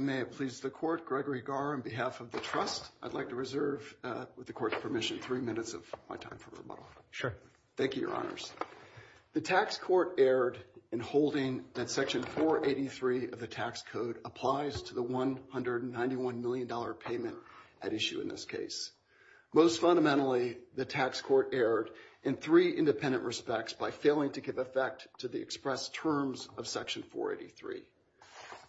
May it please the Court, Gregory Garr, on behalf of The Trust, I'd like to reserve, with the Court's permission, three minutes of my time for rebuttal. Sure. Thank you, Your Honors. The Tax Court erred in holding that Section 483 of the Tax Code applies to the $191 million payment at issue in this case. Most fundamentally, the Tax Court erred in three independent respects by failing to give effect to the expressed terms of Section 483.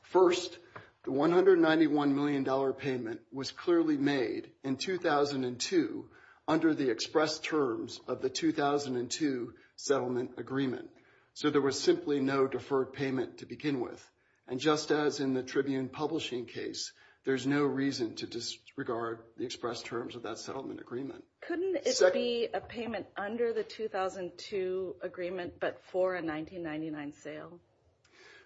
First, the $191 million payment was clearly made in 2002 under the expressed terms of the 2002 settlement agreement. So there was simply no deferred payment to begin with. And just as in the Tribune Publishing case, there's no reason to disregard the expressed terms of that settlement agreement. Couldn't it be a payment under the 2002 agreement but for a 1999 sale?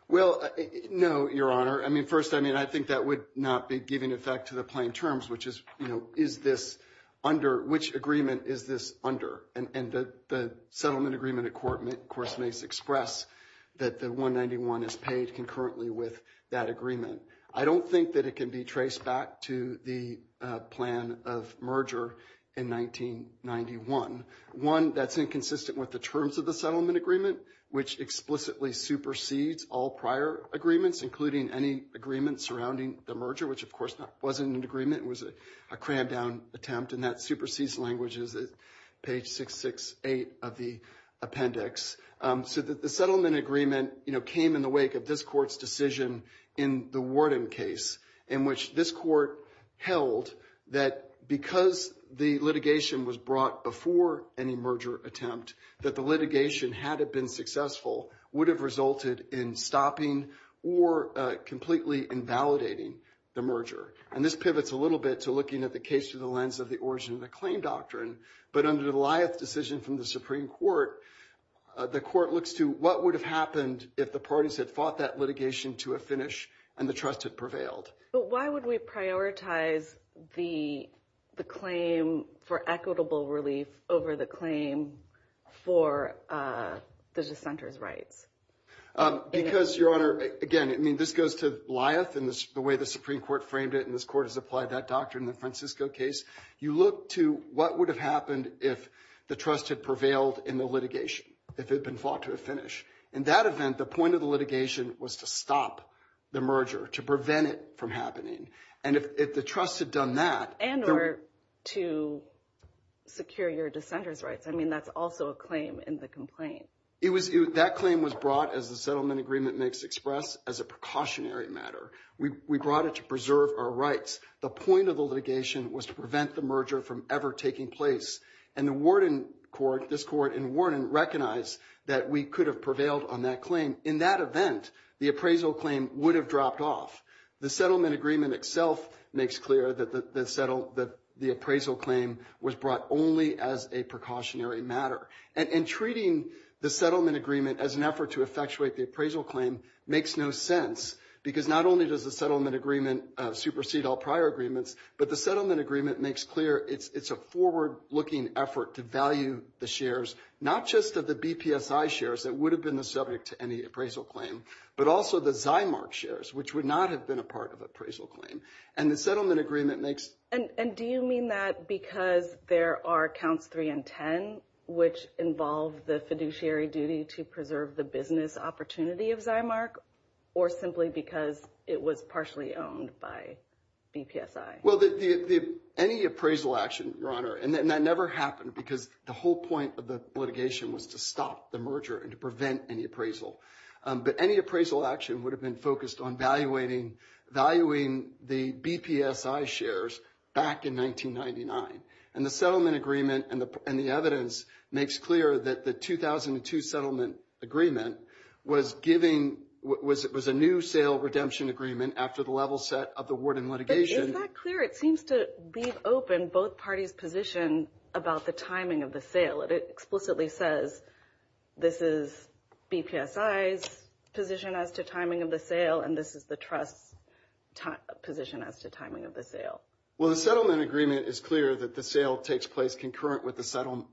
Well, no, Your Honor. I mean, first, I mean, I think that would not be giving effect to the plain terms, which is, you know, is this under, which agreement is this under? And the settlement agreement, of course, makes express that the $191 is paid concurrently with that agreement. I don't think that it can be traced back to the plan of merger in 1991. One, that's inconsistent with the terms of the settlement agreement, which explicitly supersedes all prior agreements, including any agreement surrounding the merger, which, of course, wasn't an agreement. It was a crammed-down attempt, and that supersedes languages at page 668 of the appendix. So the settlement agreement, you know, came in the wake of this Court's decision in the Warden case, in which this Court held that because the litigation was brought before any merger attempt, that the litigation, had it been successful, would have resulted in stopping or completely invalidating the merger. And this pivots a little bit to looking at the case through the lens of the origin of the claim doctrine. But under the lieth decision from the Supreme Court, the Court looks to what would have happened if the parties had fought that litigation to a finish and the trust had prevailed. But why would we prioritize the claim for equitable relief over the claim for the dissenter's rights? Because, Your Honor, again, I mean, this goes to lieth and the way the Supreme Court framed it, and this Court has applied that doctrine in the Francisco case. You look to what would have happened if the trust had prevailed in the litigation, if it had been fought to a finish. In that event, the point of the litigation was to stop the merger, to prevent it from happening. And if the trust had done that. And or to secure your dissenter's rights. I mean, that's also a claim in the complaint. That claim was brought, as the settlement agreement makes express, as a precautionary matter. We brought it to preserve our rights. The point of the litigation was to prevent the merger from ever taking place. And the warden court, this court and warden, recognized that we could have prevailed on that claim. In that event, the appraisal claim would have dropped off. The settlement agreement itself makes clear that the appraisal claim was brought only as a precautionary matter. And treating the settlement agreement as an effort to effectuate the appraisal claim makes no sense. Because not only does the settlement agreement supersede all prior agreements, but the settlement agreement makes clear it's a forward-looking effort to value the shares, not just of the BPSI shares that would have been the subject to any appraisal claim, but also the Zymark shares, which would not have been a part of appraisal claim. And the settlement agreement makes. And do you mean that because there are counts three and ten, which involve the fiduciary duty to preserve the business opportunity of Zymark? Or simply because it was partially owned by BPSI? Well, any appraisal action, Your Honor, and that never happened because the whole point of the litigation was to stop the merger and to prevent any appraisal. But any appraisal action would have been focused on valuating the BPSI shares back in 1999. And the settlement agreement and the evidence makes clear that the 2002 settlement agreement was giving, was a new sale redemption agreement after the level set of the warden litigation. But is that clear? It seems to leave open both parties' position about the timing of the sale. It explicitly says this is BPSI's position as to timing of the sale, and this is the trust's position as to timing of the sale. Well, the settlement agreement is clear that the sale takes place concurrent with the settlement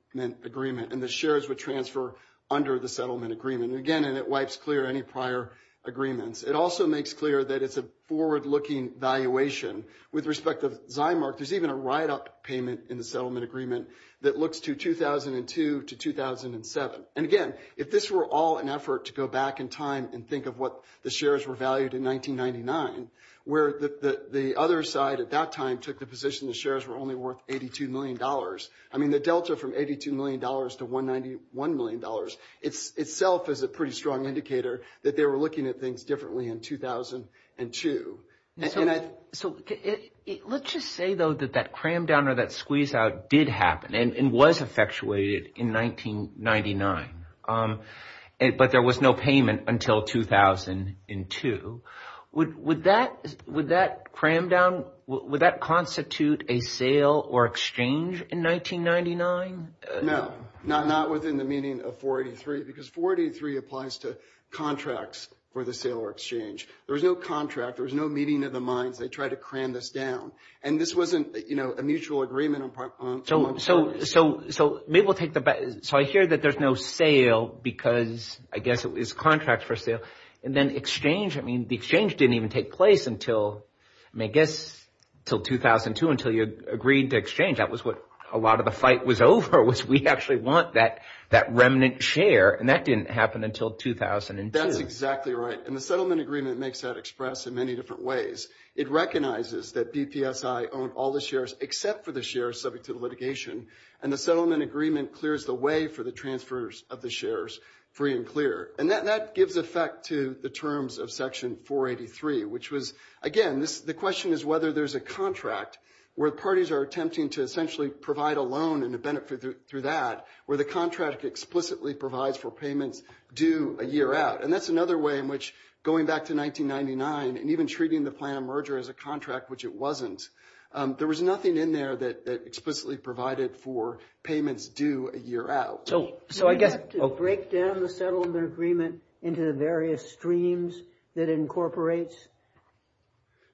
agreement, and the shares would transfer under the settlement agreement. Again, and it wipes clear any prior agreements. It also makes clear that it's a forward-looking valuation. With respect to Zymark, there's even a write-up payment in the settlement agreement that looks to 2002 to 2007. And again, if this were all an effort to go back in time and think of what the shares were valued in 1999, where the other side at that time took the position the shares were only worth $82 million. I mean, the delta from $82 million to $191 million itself is a pretty strong indicator that they were looking at things differently in 2002. So let's just say, though, that that cram down or that squeeze out did happen and was effectuated in 1999, but there was no payment until 2002. Would that cram down, would that constitute a sale or exchange in 1999? No, not within the meaning of 483 because 483 applies to contracts for the sale or exchange. There was no contract. There was no meeting of the minds. They tried to cram this down, and this wasn't a mutual agreement. So maybe we'll take the back. So I hear that there's no sale because, I guess, it was contracts for sale. And then exchange, I mean, the exchange didn't even take place until, I guess, until 2002 until you agreed to exchange. That was what a lot of the fight was over was we actually want that remnant share, and that didn't happen until 2002. That's exactly right, and the settlement agreement makes that expressed in many different ways. It recognizes that BPSI owned all the shares except for the shares subject to litigation, and the settlement agreement clears the way for the transfers of the shares free and clear. And that gives effect to the terms of Section 483, which was, again, the question is whether there's a contract where parties are attempting to essentially provide a loan and a benefit through that where the contract explicitly provides for payments due a year out. And that's another way in which going back to 1999 and even treating the plan of merger as a contract, which it wasn't, there was nothing in there that explicitly provided for payments due a year out. So I guess to break down the settlement agreement into the various streams that it incorporates?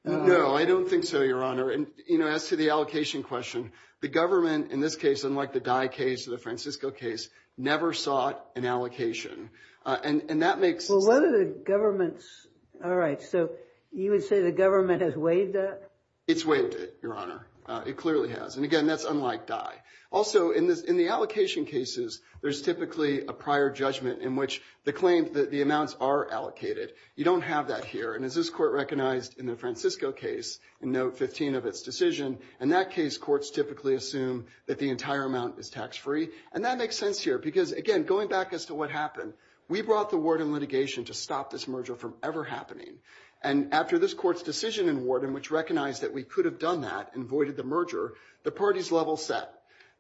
No, I don't think so, Your Honor. And, you know, as to the allocation question, the government, in this case, unlike the Dye case or the Francisco case, never sought an allocation. And that makes sense. Well, what are the government's? All right, so you would say the government has waived that? It's waived it, Your Honor. It clearly has. And, again, that's unlike Dye. Also, in the allocation cases, there's typically a prior judgment in which the claims, the amounts are allocated. You don't have that here. And as this court recognized in the Francisco case in Note 15 of its decision, in that case, courts typically assume that the entire amount is tax-free. And that makes sense here because, again, going back as to what happened, we brought the Warden litigation to stop this merger from ever happening. And after this court's decision in Warden, which recognized that we could have done that and voided the merger, the parties level set.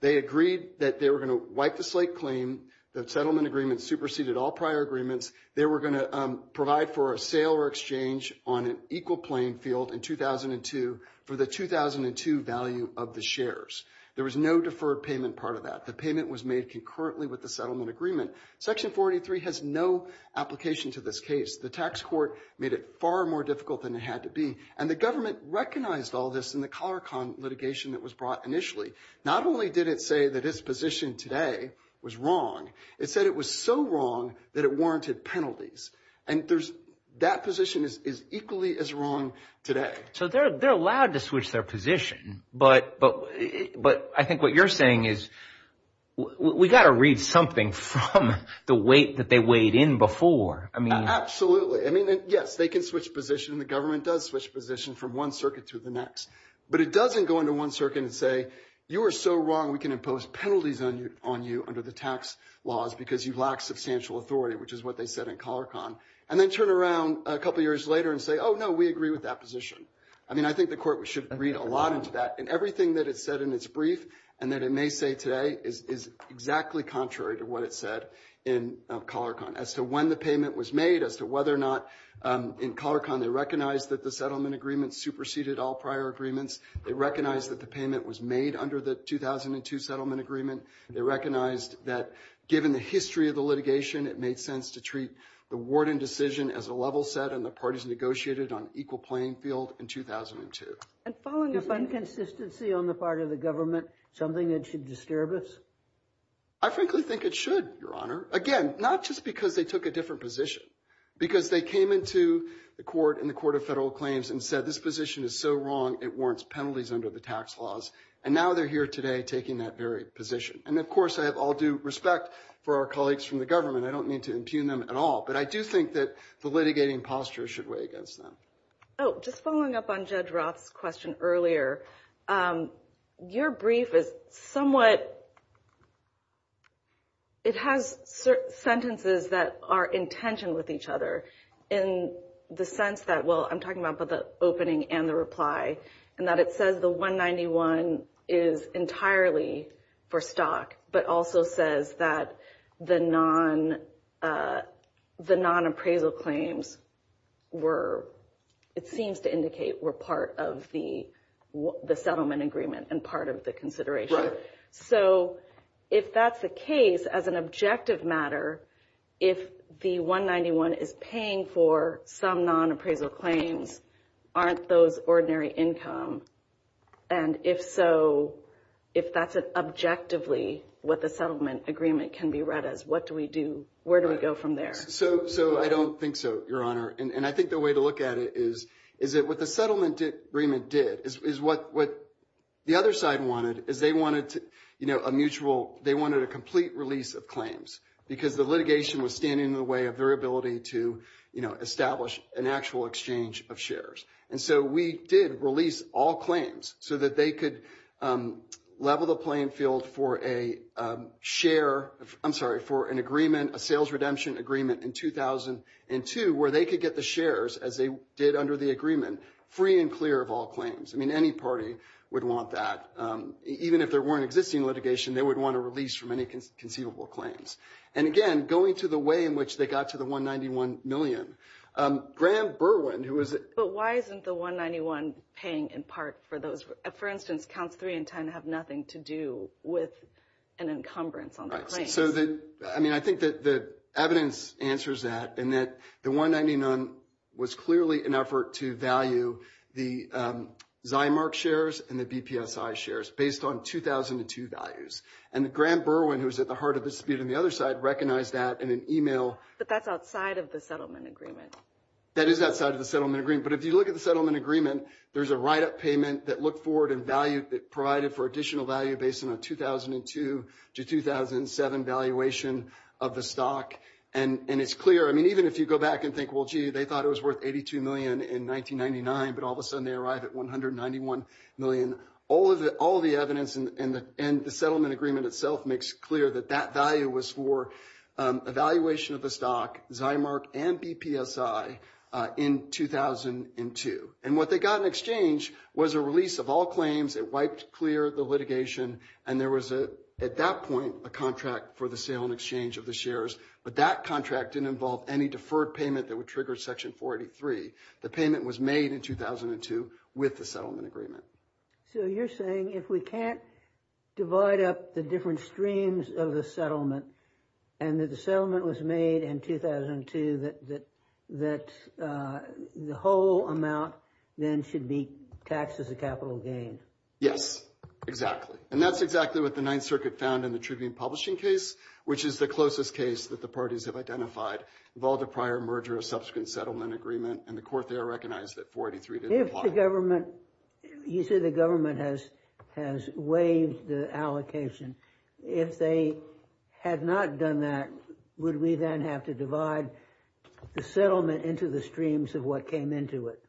They agreed that they were going to wipe the slate claim. The settlement agreement superseded all prior agreements. They were going to provide for a sale or exchange on an equal playing field in 2002 for the 2002 value of the shares. There was no deferred payment part of that. The payment was made concurrently with the settlement agreement. Section 43 has no application to this case. The tax court made it far more difficult than it had to be. And the government recognized all this in the CollarCon litigation that was brought initially. Not only did it say that its position today was wrong, it said it was so wrong that it warranted penalties. And that position is equally as wrong today. So they're allowed to switch their position, but I think what you're saying is we've got to read something from the weight that they weighed in before. Absolutely. I mean, yes, they can switch position. The government does switch position from one circuit to the next. But it doesn't go into one circuit and say you are so wrong we can impose penalties on you under the tax laws because you lack substantial authority, which is what they said in CollarCon, and then turn around a couple years later and say, oh, no, we agree with that position. I mean, I think the court should read a lot into that. And everything that it said in its brief and that it may say today is exactly contrary to what it said in CollarCon as to when the payment was made, as to whether or not in CollarCon they recognized that the settlement agreement superseded all prior agreements. They recognized that the payment was made under the 2002 settlement agreement. They recognized that given the history of the litigation, it made sense to treat the warden decision as a level set, and the parties negotiated on equal playing field in 2002. And following up on consistency on the part of the government, something that should disturb us? I frankly think it should, Your Honor. Again, not just because they took a different position. Because they came into the court in the Court of Federal Claims and said this position is so wrong it warrants penalties under the tax laws. And now they're here today taking that very position. And, of course, I have all due respect for our colleagues from the government. I don't mean to impugn them at all. But I do think that the litigating posture should weigh against them. Oh, just following up on Judge Roth's question earlier, your brief is somewhat, it has sentences that are in tension with each other in the sense that, well, I'm talking about the opening and the reply, and that it says the 191 is entirely for stock, but also says that the non-appraisal claims were, it seems to indicate, were part of the settlement agreement and part of the consideration. So if that's the case, as an objective matter, if the 191 is paying for some non-appraisal claims, aren't those ordinary income? And if so, if that's objectively what the settlement agreement can be read as, what do we do? Where do we go from there? So I don't think so, Your Honor. And I think the way to look at it is that what the settlement agreement did is what the other side wanted is they wanted a mutual, they wanted a complete release of claims because the litigation was standing in the way of their ability to establish an actual exchange of shares. And so we did release all claims so that they could level the playing field for a share, I'm sorry, for an agreement, a sales redemption agreement in 2002 where they could get the shares as they did under the agreement, free and clear of all claims. I mean, any party would want that. Even if there were an existing litigation, they would want a release from any conceivable claims. And, again, going to the way in which they got to the 191 million, Graham Berwyn, who was the – But why isn't the 191 paying in part for those? For instance, counts 3 and 10 have nothing to do with an encumbrance on the claims. So the – I mean, I think that the evidence answers that and that the 199 was clearly an effort to value the Zimark shares and the BPSI shares based on 2002 values. And Graham Berwyn, who was at the heart of the dispute on the other side, recognized that in an email. But that's outside of the settlement agreement. That is outside of the settlement agreement. But if you look at the settlement agreement, there's a write-up payment that looked forward and provided for additional value based on a 2002 to 2007 valuation of the stock. And it's clear. I mean, even if you go back and think, well, gee, they thought it was worth 82 million in 1999, but all of a sudden they arrive at 191 million. All of the evidence in the settlement agreement itself makes clear that that value was for a valuation of the stock, Zimark and BPSI, in 2002. And what they got in exchange was a release of all claims. It wiped clear the litigation. And there was, at that point, a contract for the sale and exchange of the shares. But that contract didn't involve any deferred payment that would trigger Section 483. The payment was made in 2002 with the settlement agreement. So you're saying if we can't divide up the different streams of the settlement and that the settlement was made in 2002, that the whole amount then should be taxed as a capital gain? Yes, exactly. And that's exactly what the Ninth Circuit found in the Tribune Publishing case, which is the closest case that the parties have identified. Involved a prior merger of subsequent settlement agreement, and the court there recognized that 483 didn't apply. You say the government has waived the allocation. If they had not done that, would we then have to divide the settlement into the streams of what came into it?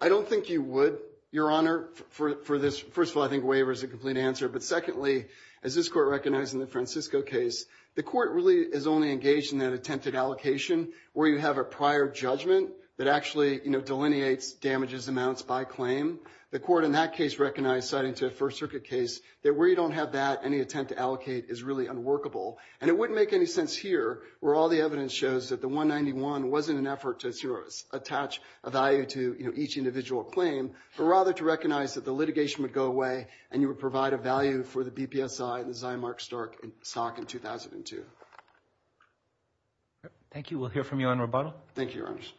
I don't think you would, Your Honor, for this. First of all, I think waiver is a complete answer. But secondly, as this court recognized in the Francisco case, the court really is only engaged in that attempted allocation where you have a prior judgment that actually delineates damages amounts by claim. The court in that case recognized, citing to the First Circuit case, that where you don't have that, any attempt to allocate is really unworkable. And it wouldn't make any sense here where all the evidence shows that the 191 wasn't an effort to attach a value to each individual claim, but rather to recognize that the litigation would go away and you would provide a value for the BPSI and the Zimark stock in 2002. Thank you. We'll hear from you on rebuttal. Thank you, Your Honors.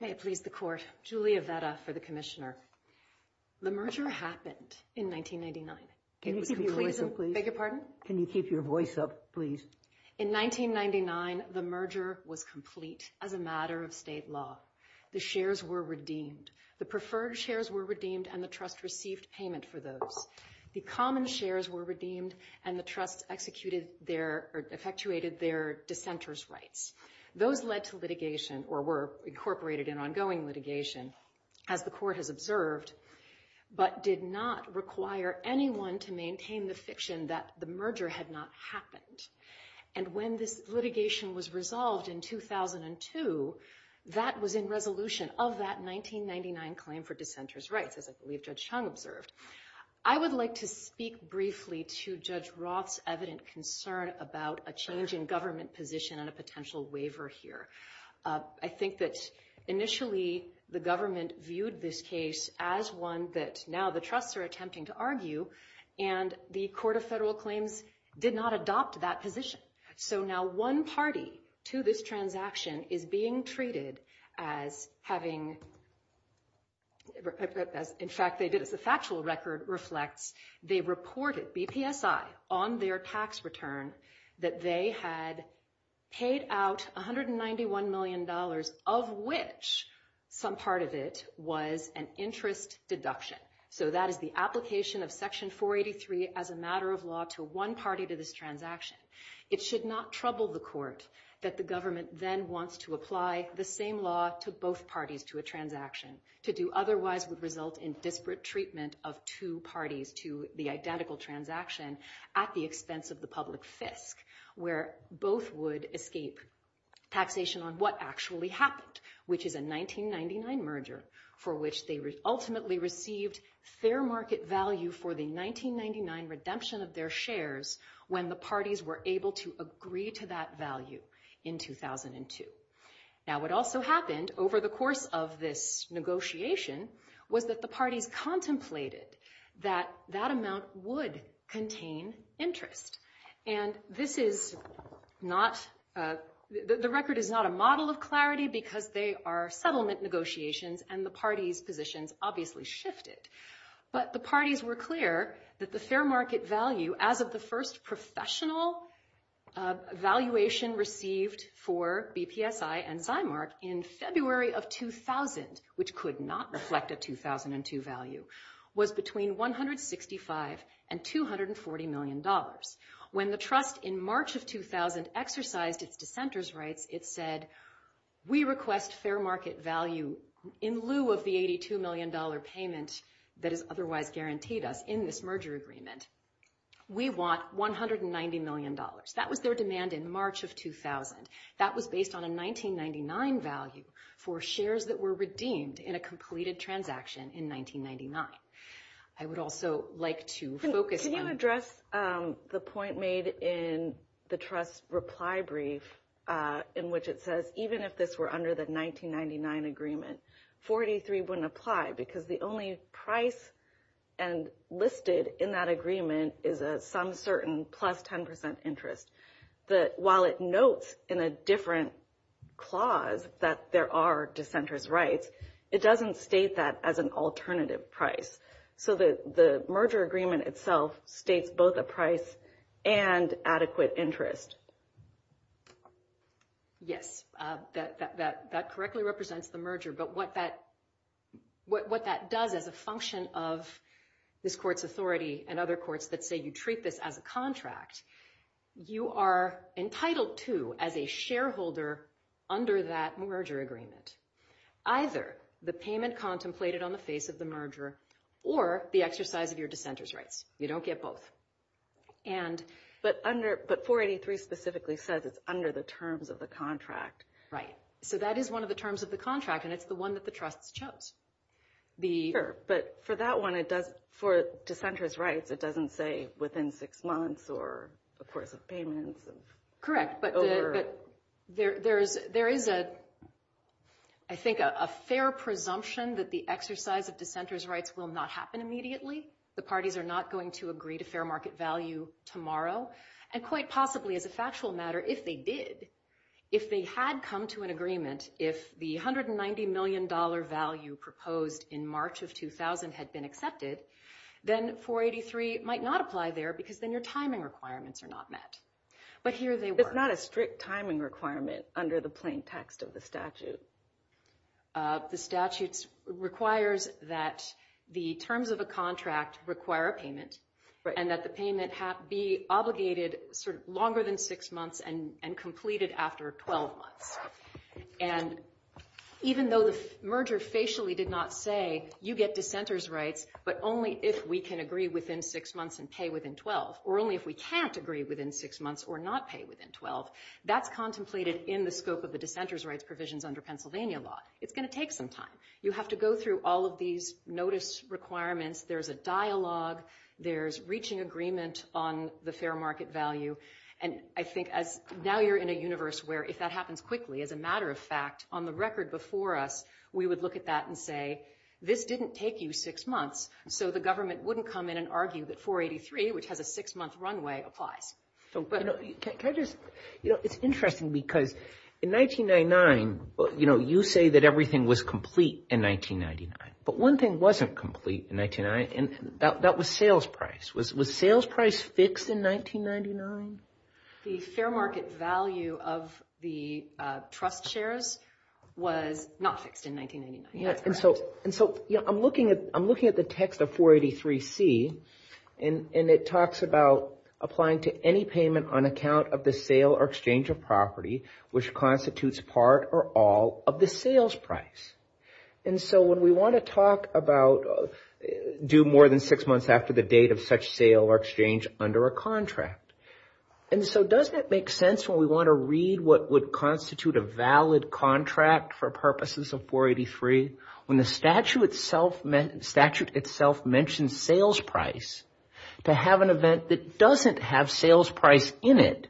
May it please the Court. Julia Vetta for the Commissioner. The merger happened in 1999. Can you keep your voice up, please? Beg your pardon? Can you keep your voice up, please? In 1999, the merger was complete as a matter of state law. The shares were redeemed. The preferred shares were redeemed and the trust received payment for those. The common shares were redeemed and the trust executed their or effectuated their dissenter's rights. Those led to litigation or were incorporated in ongoing litigation, as the court has observed, but did not require anyone to maintain the fiction that the merger had not happened. And when this litigation was resolved in 2002, that was in resolution of that 1999 claim for dissenter's rights, as I believe Judge Chung observed. I would like to speak briefly to Judge Roth's evident concern about a change in government position and a potential waiver here. I think that initially the government viewed this case as one that now the trusts are attempting to argue, and the Court of Federal Claims did not adopt that position. So now one party to this transaction is being treated as having, in fact, they did. As the factual record reflects, they reported BPSI on their tax return that they had paid out $191 million, of which some part of it was an interest deduction. So that is the application of Section 483 as a matter of law to one party to this transaction. It should not trouble the court that the government then wants to apply the same law to both parties to a transaction. To do otherwise would result in disparate treatment of two parties to the identical transaction at the expense of the public fisc, where both would escape taxation on what actually happened, which is a 1999 merger for which they ultimately received fair market value for the 1999 redemption of their shares when the parties were able to agree to that value in 2002. Now what also happened over the course of this negotiation was that the parties contemplated that that amount would contain interest. And this is not, the record is not a model of clarity because they are settlement negotiations and the parties' positions obviously shifted. But the parties were clear that the fair market value as of the first professional valuation received for BPSI and Zymark in February of 2000, which could not reflect a 2002 value, was between $165 and $240 million. When the trust in March of 2000 exercised its dissenter's rights, it said, we request fair market value in lieu of the $82 million payment that is otherwise guaranteed us in this merger agreement. We want $190 million. That was their demand in March of 2000. That was based on a 1999 value for shares that were redeemed in a completed transaction in 1999. I would also like to focus on- Can you address the point made in the trust reply brief in which it says even if this were under the 1999 agreement, 43 wouldn't apply because the only price listed in that agreement is some certain plus 10% interest. While it notes in a different clause that there are dissenter's rights, it doesn't state that as an alternative price. So the merger agreement itself states both a price and adequate interest. Yes, that correctly represents the merger. But what that does as a function of this court's authority and other courts that say you treat this as a contract, you are entitled to as a shareholder under that merger agreement either the payment contemplated on the face of the merger or the exercise of your dissenter's rights. You don't get both. But 483 specifically says it's under the terms of the contract. Right. So that is one of the terms of the contract, and it's the one that the trust chose. Sure, but for that one, for dissenter's rights, it doesn't say within six months or a course of payments. Correct, but there is, I think, a fair presumption that the exercise of dissenter's rights will not happen immediately. The parties are not going to agree to fair market value tomorrow. And quite possibly as a factual matter, if they did, if they had come to an agreement, if the $190 million value proposed in March of 2000 had been accepted, then 483 might not apply there because then your timing requirements are not met. But here they were. It's not a strict timing requirement under the plain text of the statute. The statute requires that the terms of a contract require a payment and that the payment be obligated sort of longer than six months and completed after 12 months. And even though the merger facially did not say you get dissenter's rights, but only if we can agree within six months and pay within 12, or only if we can't agree within six months or not pay within 12, that's contemplated in the scope of the dissenter's rights provisions under Pennsylvania law. It's going to take some time. You have to go through all of these notice requirements. There's a dialogue. There's reaching agreement on the fair market value. And I think now you're in a universe where if that happens quickly, as a matter of fact, on the record before us, we would look at that and say, this didn't take you six months, so the government wouldn't come in and argue that 483, which has a six-month runway, applies. Can I just, you know, it's interesting because in 1999, you know, you say that everything was complete in 1999. But one thing wasn't complete in 1999, and that was sales price. Was sales price fixed in 1999? The fair market value of the trust shares was not fixed in 1999. And so, you know, I'm looking at the text of 483C, and it talks about applying to any payment on account of the sale or exchange of property, which constitutes part or all of the sales price. And so when we want to talk about, do more than six months after the date of such sale or exchange under a contract. And so does that make sense when we want to read what would constitute a valid contract for purposes of 483? When the statute itself mentions sales price, to have an event that doesn't have sales price in it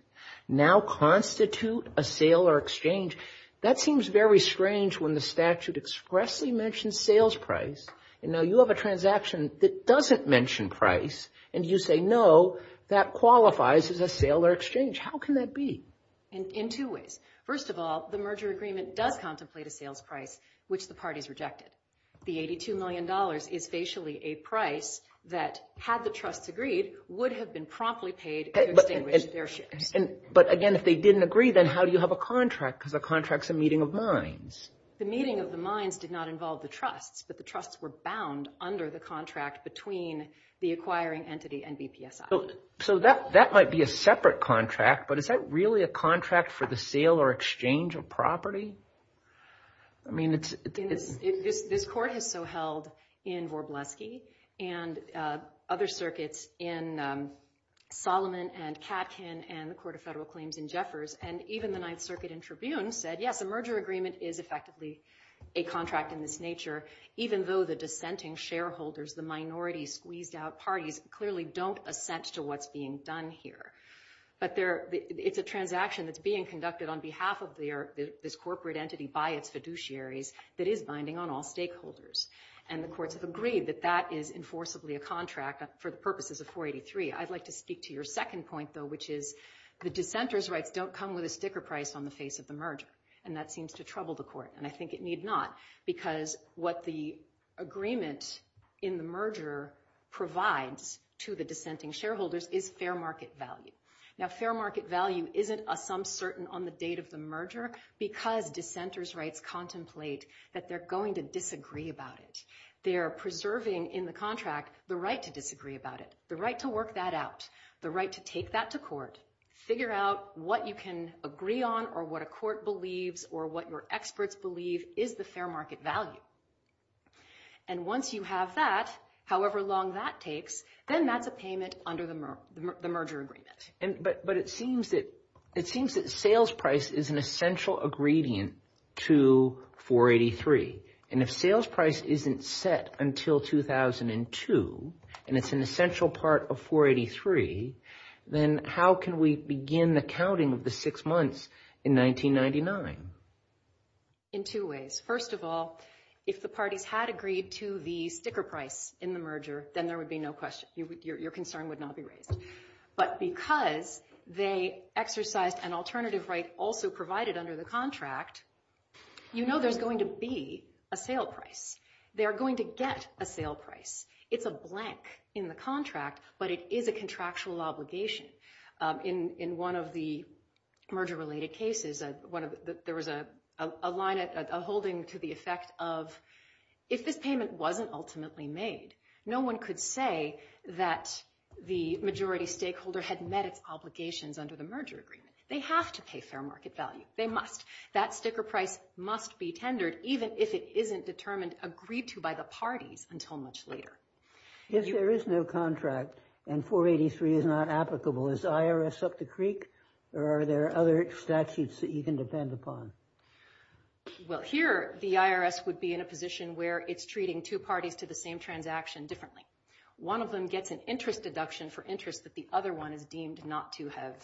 now constitute a sale or exchange, that seems very strange when the statute expressly mentions sales price. And now you have a transaction that doesn't mention price, and you say, no, that qualifies as a sale or exchange. How can that be? In two ways. First of all, the merger agreement does contemplate a sales price, which the parties rejected. The $82 million is facially a price that, had the trusts agreed, would have been promptly paid to extinguish their shares. But again, if they didn't agree, then how do you have a contract? Because a contract's a meeting of minds. The meeting of the minds did not involve the trusts, but the trusts were bound under the contract between the acquiring entity and BPSI. So that might be a separate contract, but is that really a contract for the sale or exchange of property? I mean, it's... This court has so held in Warbleski and other circuits in Solomon and Katkin and the Court of Federal Claims in Jeffers, and even the Ninth Circuit in Tribune said, yes, a merger agreement is effectively a contract in this nature, even though the dissenting shareholders, the minority-squeezed-out parties, clearly don't assent to what's being done here. But it's a transaction that's being conducted on behalf of this corporate entity by its fiduciaries that is binding on all stakeholders. And the courts have agreed that that is enforceably a contract for the purposes of 483. I'd like to speak to your second point, though, which is the dissenter's rights don't come with a sticker price on the face of the merger, and that seems to trouble the court, and I think it need not, because what the agreement in the merger provides to the dissenting shareholders is fair market value. Now, fair market value isn't a sum certain on the date of the merger because dissenter's rights contemplate that they're going to disagree about it. They're preserving in the contract the right to disagree about it, the right to work that out, the right to take that to court, figure out what you can agree on or what a court believes or what your experts believe is the fair market value. And once you have that, however long that takes, then that's a payment under the merger agreement. But it seems that sales price is an essential ingredient to 483. And if sales price isn't set until 2002 and it's an essential part of 483, then how can we begin the counting of the six months in 1999? In two ways. First of all, if the parties had agreed to the sticker price in the merger, then there would be no question. Your concern would not be raised. But because they exercised an alternative right also provided under the contract, you know there's going to be a sale price. They're going to get a sale price. It's a blank in the contract, but it is a contractual obligation. In one of the merger-related cases, there was a line, a holding to the effect of, if this payment wasn't ultimately made, no one could say that the majority stakeholder had met its obligations under the merger agreement. They have to pay fair market value. They must. That sticker price must be tendered, even if it isn't determined agreed to by the parties until much later. If there is no contract and 483 is not applicable, is the IRS up the creek, or are there other statutes that you can depend upon? Well, here the IRS would be in a position where it's treating two parties to the same transaction differently. One of them gets an interest deduction for interest that the other one is deemed not to have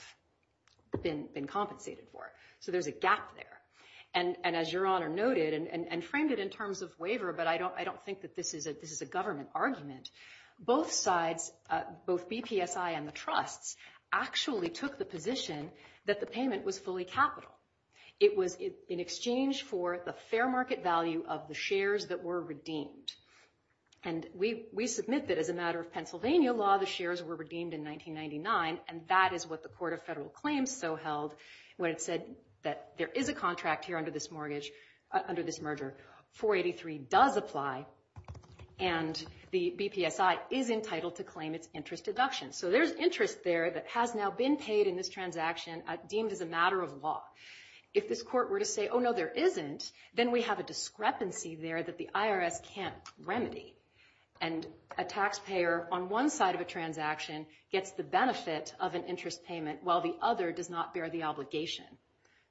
been compensated for. So there's a gap there. And as Your Honor noted, and framed it in terms of waiver, but I don't think that this is a government argument, both sides, both BPSI and the trusts, actually took the position that the payment was fully capital. It was in exchange for the fair market value of the shares that were redeemed. And we submit that as a matter of Pennsylvania law, the shares were redeemed in 1999, and that is what the Court of Federal Claims so held when it said that there is a contract here under this merger, 483 does apply, and the BPSI is entitled to claim its interest deduction. So there's interest there that has now been paid in this transaction deemed as a matter of law. If this court were to say, oh, no, there isn't, then we have a discrepancy there that the IRS can't remedy. And a taxpayer on one side of a transaction gets the benefit of an interest payment while the other does not bear the obligation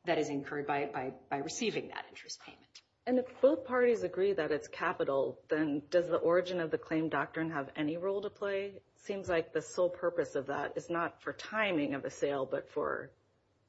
that is incurred by receiving that interest payment. And if both parties agree that it's capital, then does the origin of the claim doctrine have any role to play? It seems like the sole purpose of that is not for timing of the sale, but for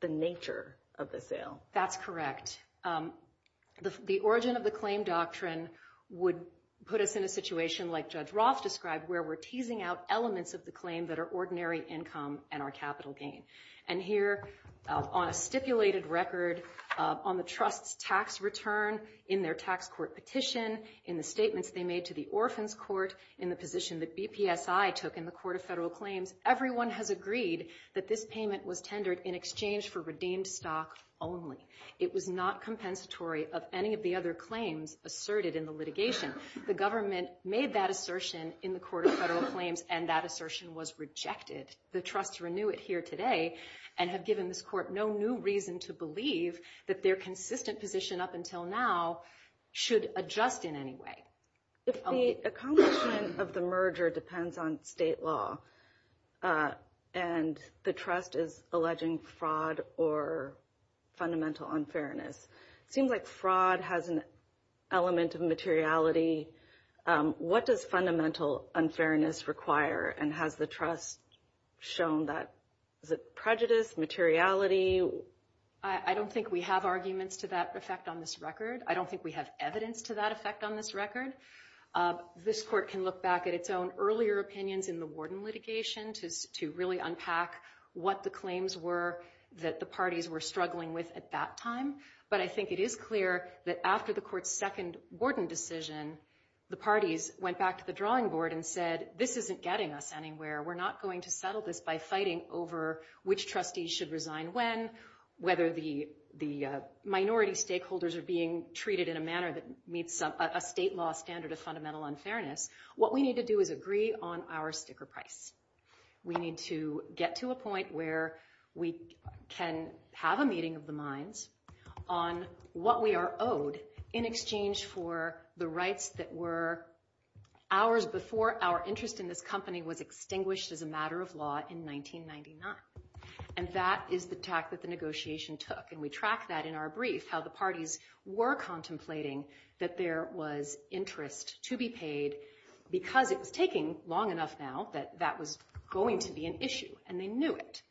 the nature of the sale. That's correct. The origin of the claim doctrine would put us in a situation like Judge Roth described where we're teasing out elements of the claim that are ordinary income and our capital gain. And here on a stipulated record on the trust's tax return in their tax court petition, in the statements they made to the Orphans Court, in the position that BPSI took in the Court of Federal Claims, everyone has agreed that this payment was tendered in exchange for redeemed stock only. It was not compensatory of any of the other claims asserted in the litigation. The government made that assertion in the Court of Federal Claims and that assertion was rejected. The trusts renew it here today and have given this court no new reason to believe that their consistent position up until now should adjust in any way. If the accomplishment of the merger depends on state law and the trust is alleging fraud or fundamental unfairness, it seems like fraud has an element of materiality. What does fundamental unfairness require and has the trust shown that prejudice, materiality? I don't think we have arguments to that effect on this record. I don't think we have evidence to that effect on this record. This court can look back at its own earlier opinions in the Wharton litigation to really unpack what the claims were that the parties were struggling with at that time. But I think it is clear that after the court's second Wharton decision, the parties went back to the drawing board and said, this isn't getting us anywhere. We're not going to settle this by fighting over which trustees should resign when, whether the minority stakeholders are being treated in a manner that meets a state law standard of fundamental unfairness. What we need to do is agree on our sticker price. We need to get to a point where we can have a meeting of the minds on what we are owed in exchange for the rights that were ours before our interest in this company was extinguished as a matter of law in 1999. And that is the tact that the negotiation took. And we track that in our brief, how the parties were contemplating that there was interest to be paid because it was taking long enough now that that was going to be an issue, and they knew it.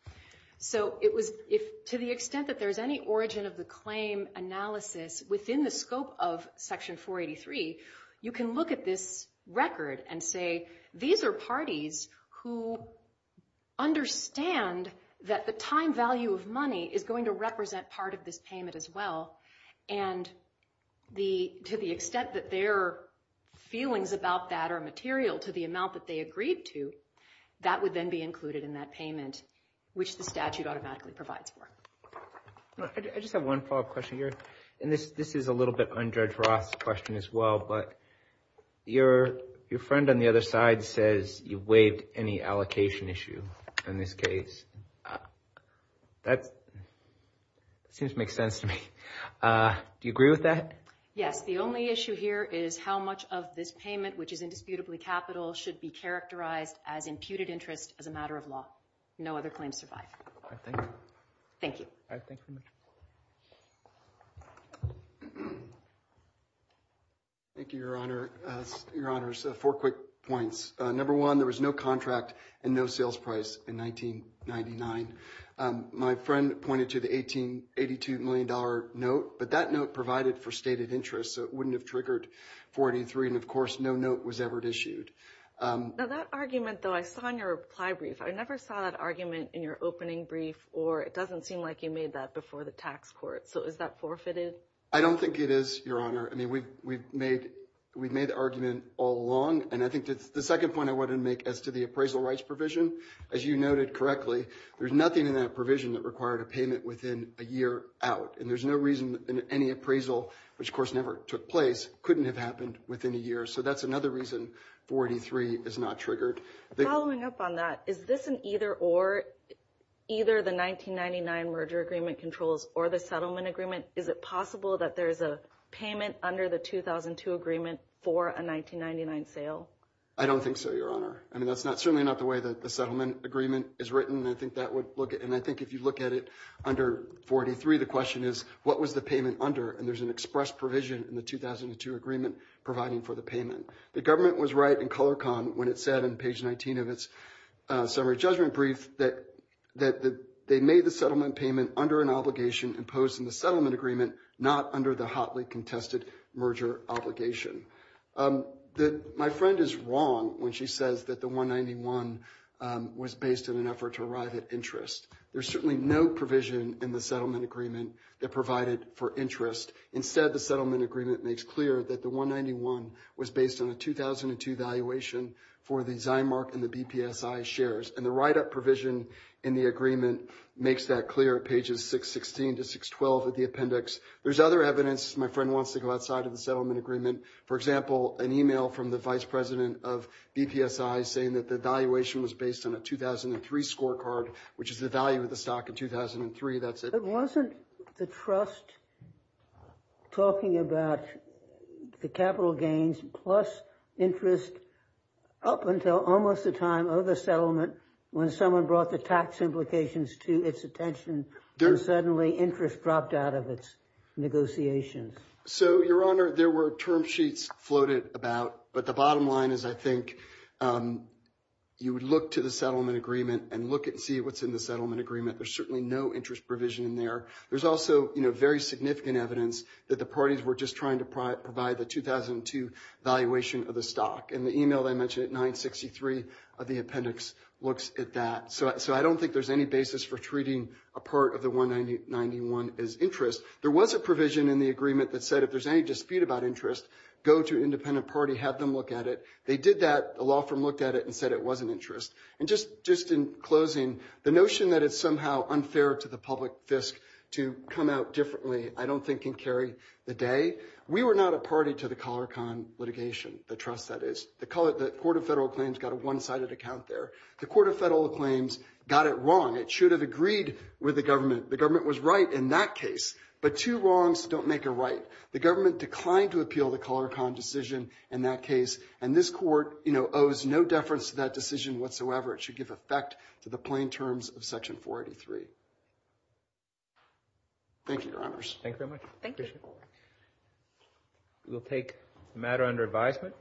So to the extent that there's any origin of the claim analysis within the scope of Section 483, you can look at this record and say, these are parties who understand that the time value of money is going to represent part of this payment as well. And to the extent that their feelings about that are material to the amount that they agreed to, that would then be included in that payment, which the statute automatically provides for. I just have one follow-up question here, and this is a little bit on Judge Roth's question as well, but your friend on the other side says you waived any allocation issue in this case. That seems to make sense to me. Do you agree with that? Yes. The only issue here is how much of this payment, which is indisputably capital, should be characterized as imputed interest as a matter of law. No other claims survive. Thank you. Thank you. Thank you, Your Honor. Your Honors, four quick points. Number one, there was no contract and no sales price in 1999. My friend pointed to the $82 million note, but that note provided for stated interest, so it wouldn't have triggered 483. And, of course, no note was ever issued. Now, that argument, though, I saw in your reply brief. I never saw that argument in your opening brief, or it doesn't seem like you made that before the tax court. So is that forfeited? I don't think it is, Your Honor. I mean, we've made the argument all along, and I think the second point I wanted to make as to the appraisal rights provision, as you noted correctly, there's nothing in that provision that required a payment within a year out. And there's no reason any appraisal, which, of course, never took place, couldn't have happened within a year. So that's another reason 483 is not triggered. Following up on that, is this an either-or? Either the 1999 merger agreement controls or the settlement agreement, is it possible that there's a payment under the 2002 agreement for a 1999 sale? I don't think so, Your Honor. I mean, that's certainly not the way that the settlement agreement is written, and I think if you look at it under 483, the question is, what was the payment under? And there's an express provision in the 2002 agreement providing for the payment. The government was right in ColorCon when it said in page 19 of its summary judgment brief that they made the settlement payment under an obligation imposed in the settlement agreement, not under the hotly contested merger obligation. My friend is wrong when she says that the 191 was based in an effort to arrive at interest. There's certainly no provision in the settlement agreement that provided for interest. Instead, the settlement agreement makes clear that the 191 was based on a 2002 valuation for the Zimark and the BPSI shares, and the write-up provision in the agreement makes that clear at pages 616 to 612 of the appendix. There's other evidence my friend wants to go outside of the settlement agreement. For example, an email from the vice president of BPSI saying that the valuation was based on a 2003 scorecard, which is the value of the stock in 2003. That's it. Wasn't the trust talking about the capital gains plus interest up until almost the time of the settlement when someone brought the tax implications to its attention and suddenly interest dropped out of its negotiations? So, Your Honor, there were term sheets floated about, but the bottom line is I think you would look to the settlement agreement and look and see what's in the settlement agreement. There's certainly no interest provision in there. There's also very significant evidence that the parties were just trying to provide the 2002 valuation of the stock, and the email that I mentioned at 963 of the appendix looks at that. So I don't think there's any basis for treating a part of the 191 as interest. There was a provision in the agreement that said if there's any dispute about interest, go to an independent party, have them look at it. They did that. The law firm looked at it and said it wasn't interest. And just in closing, the notion that it's somehow unfair to the public fisc to come out differently I don't think can carry the day. We were not a party to the Color Con litigation, the trust that is. The Court of Federal Claims got a one-sided account there. The Court of Federal Claims got it wrong. It should have agreed with the government. The government was right in that case, but two wrongs don't make a right. The government declined to appeal the Color Con decision in that case, and this court owes no deference to that decision whatsoever. It should give effect to the plain terms of Section 483. Thank you, Your Honors. Thank you very much. Thank you. We'll take matter under advisement.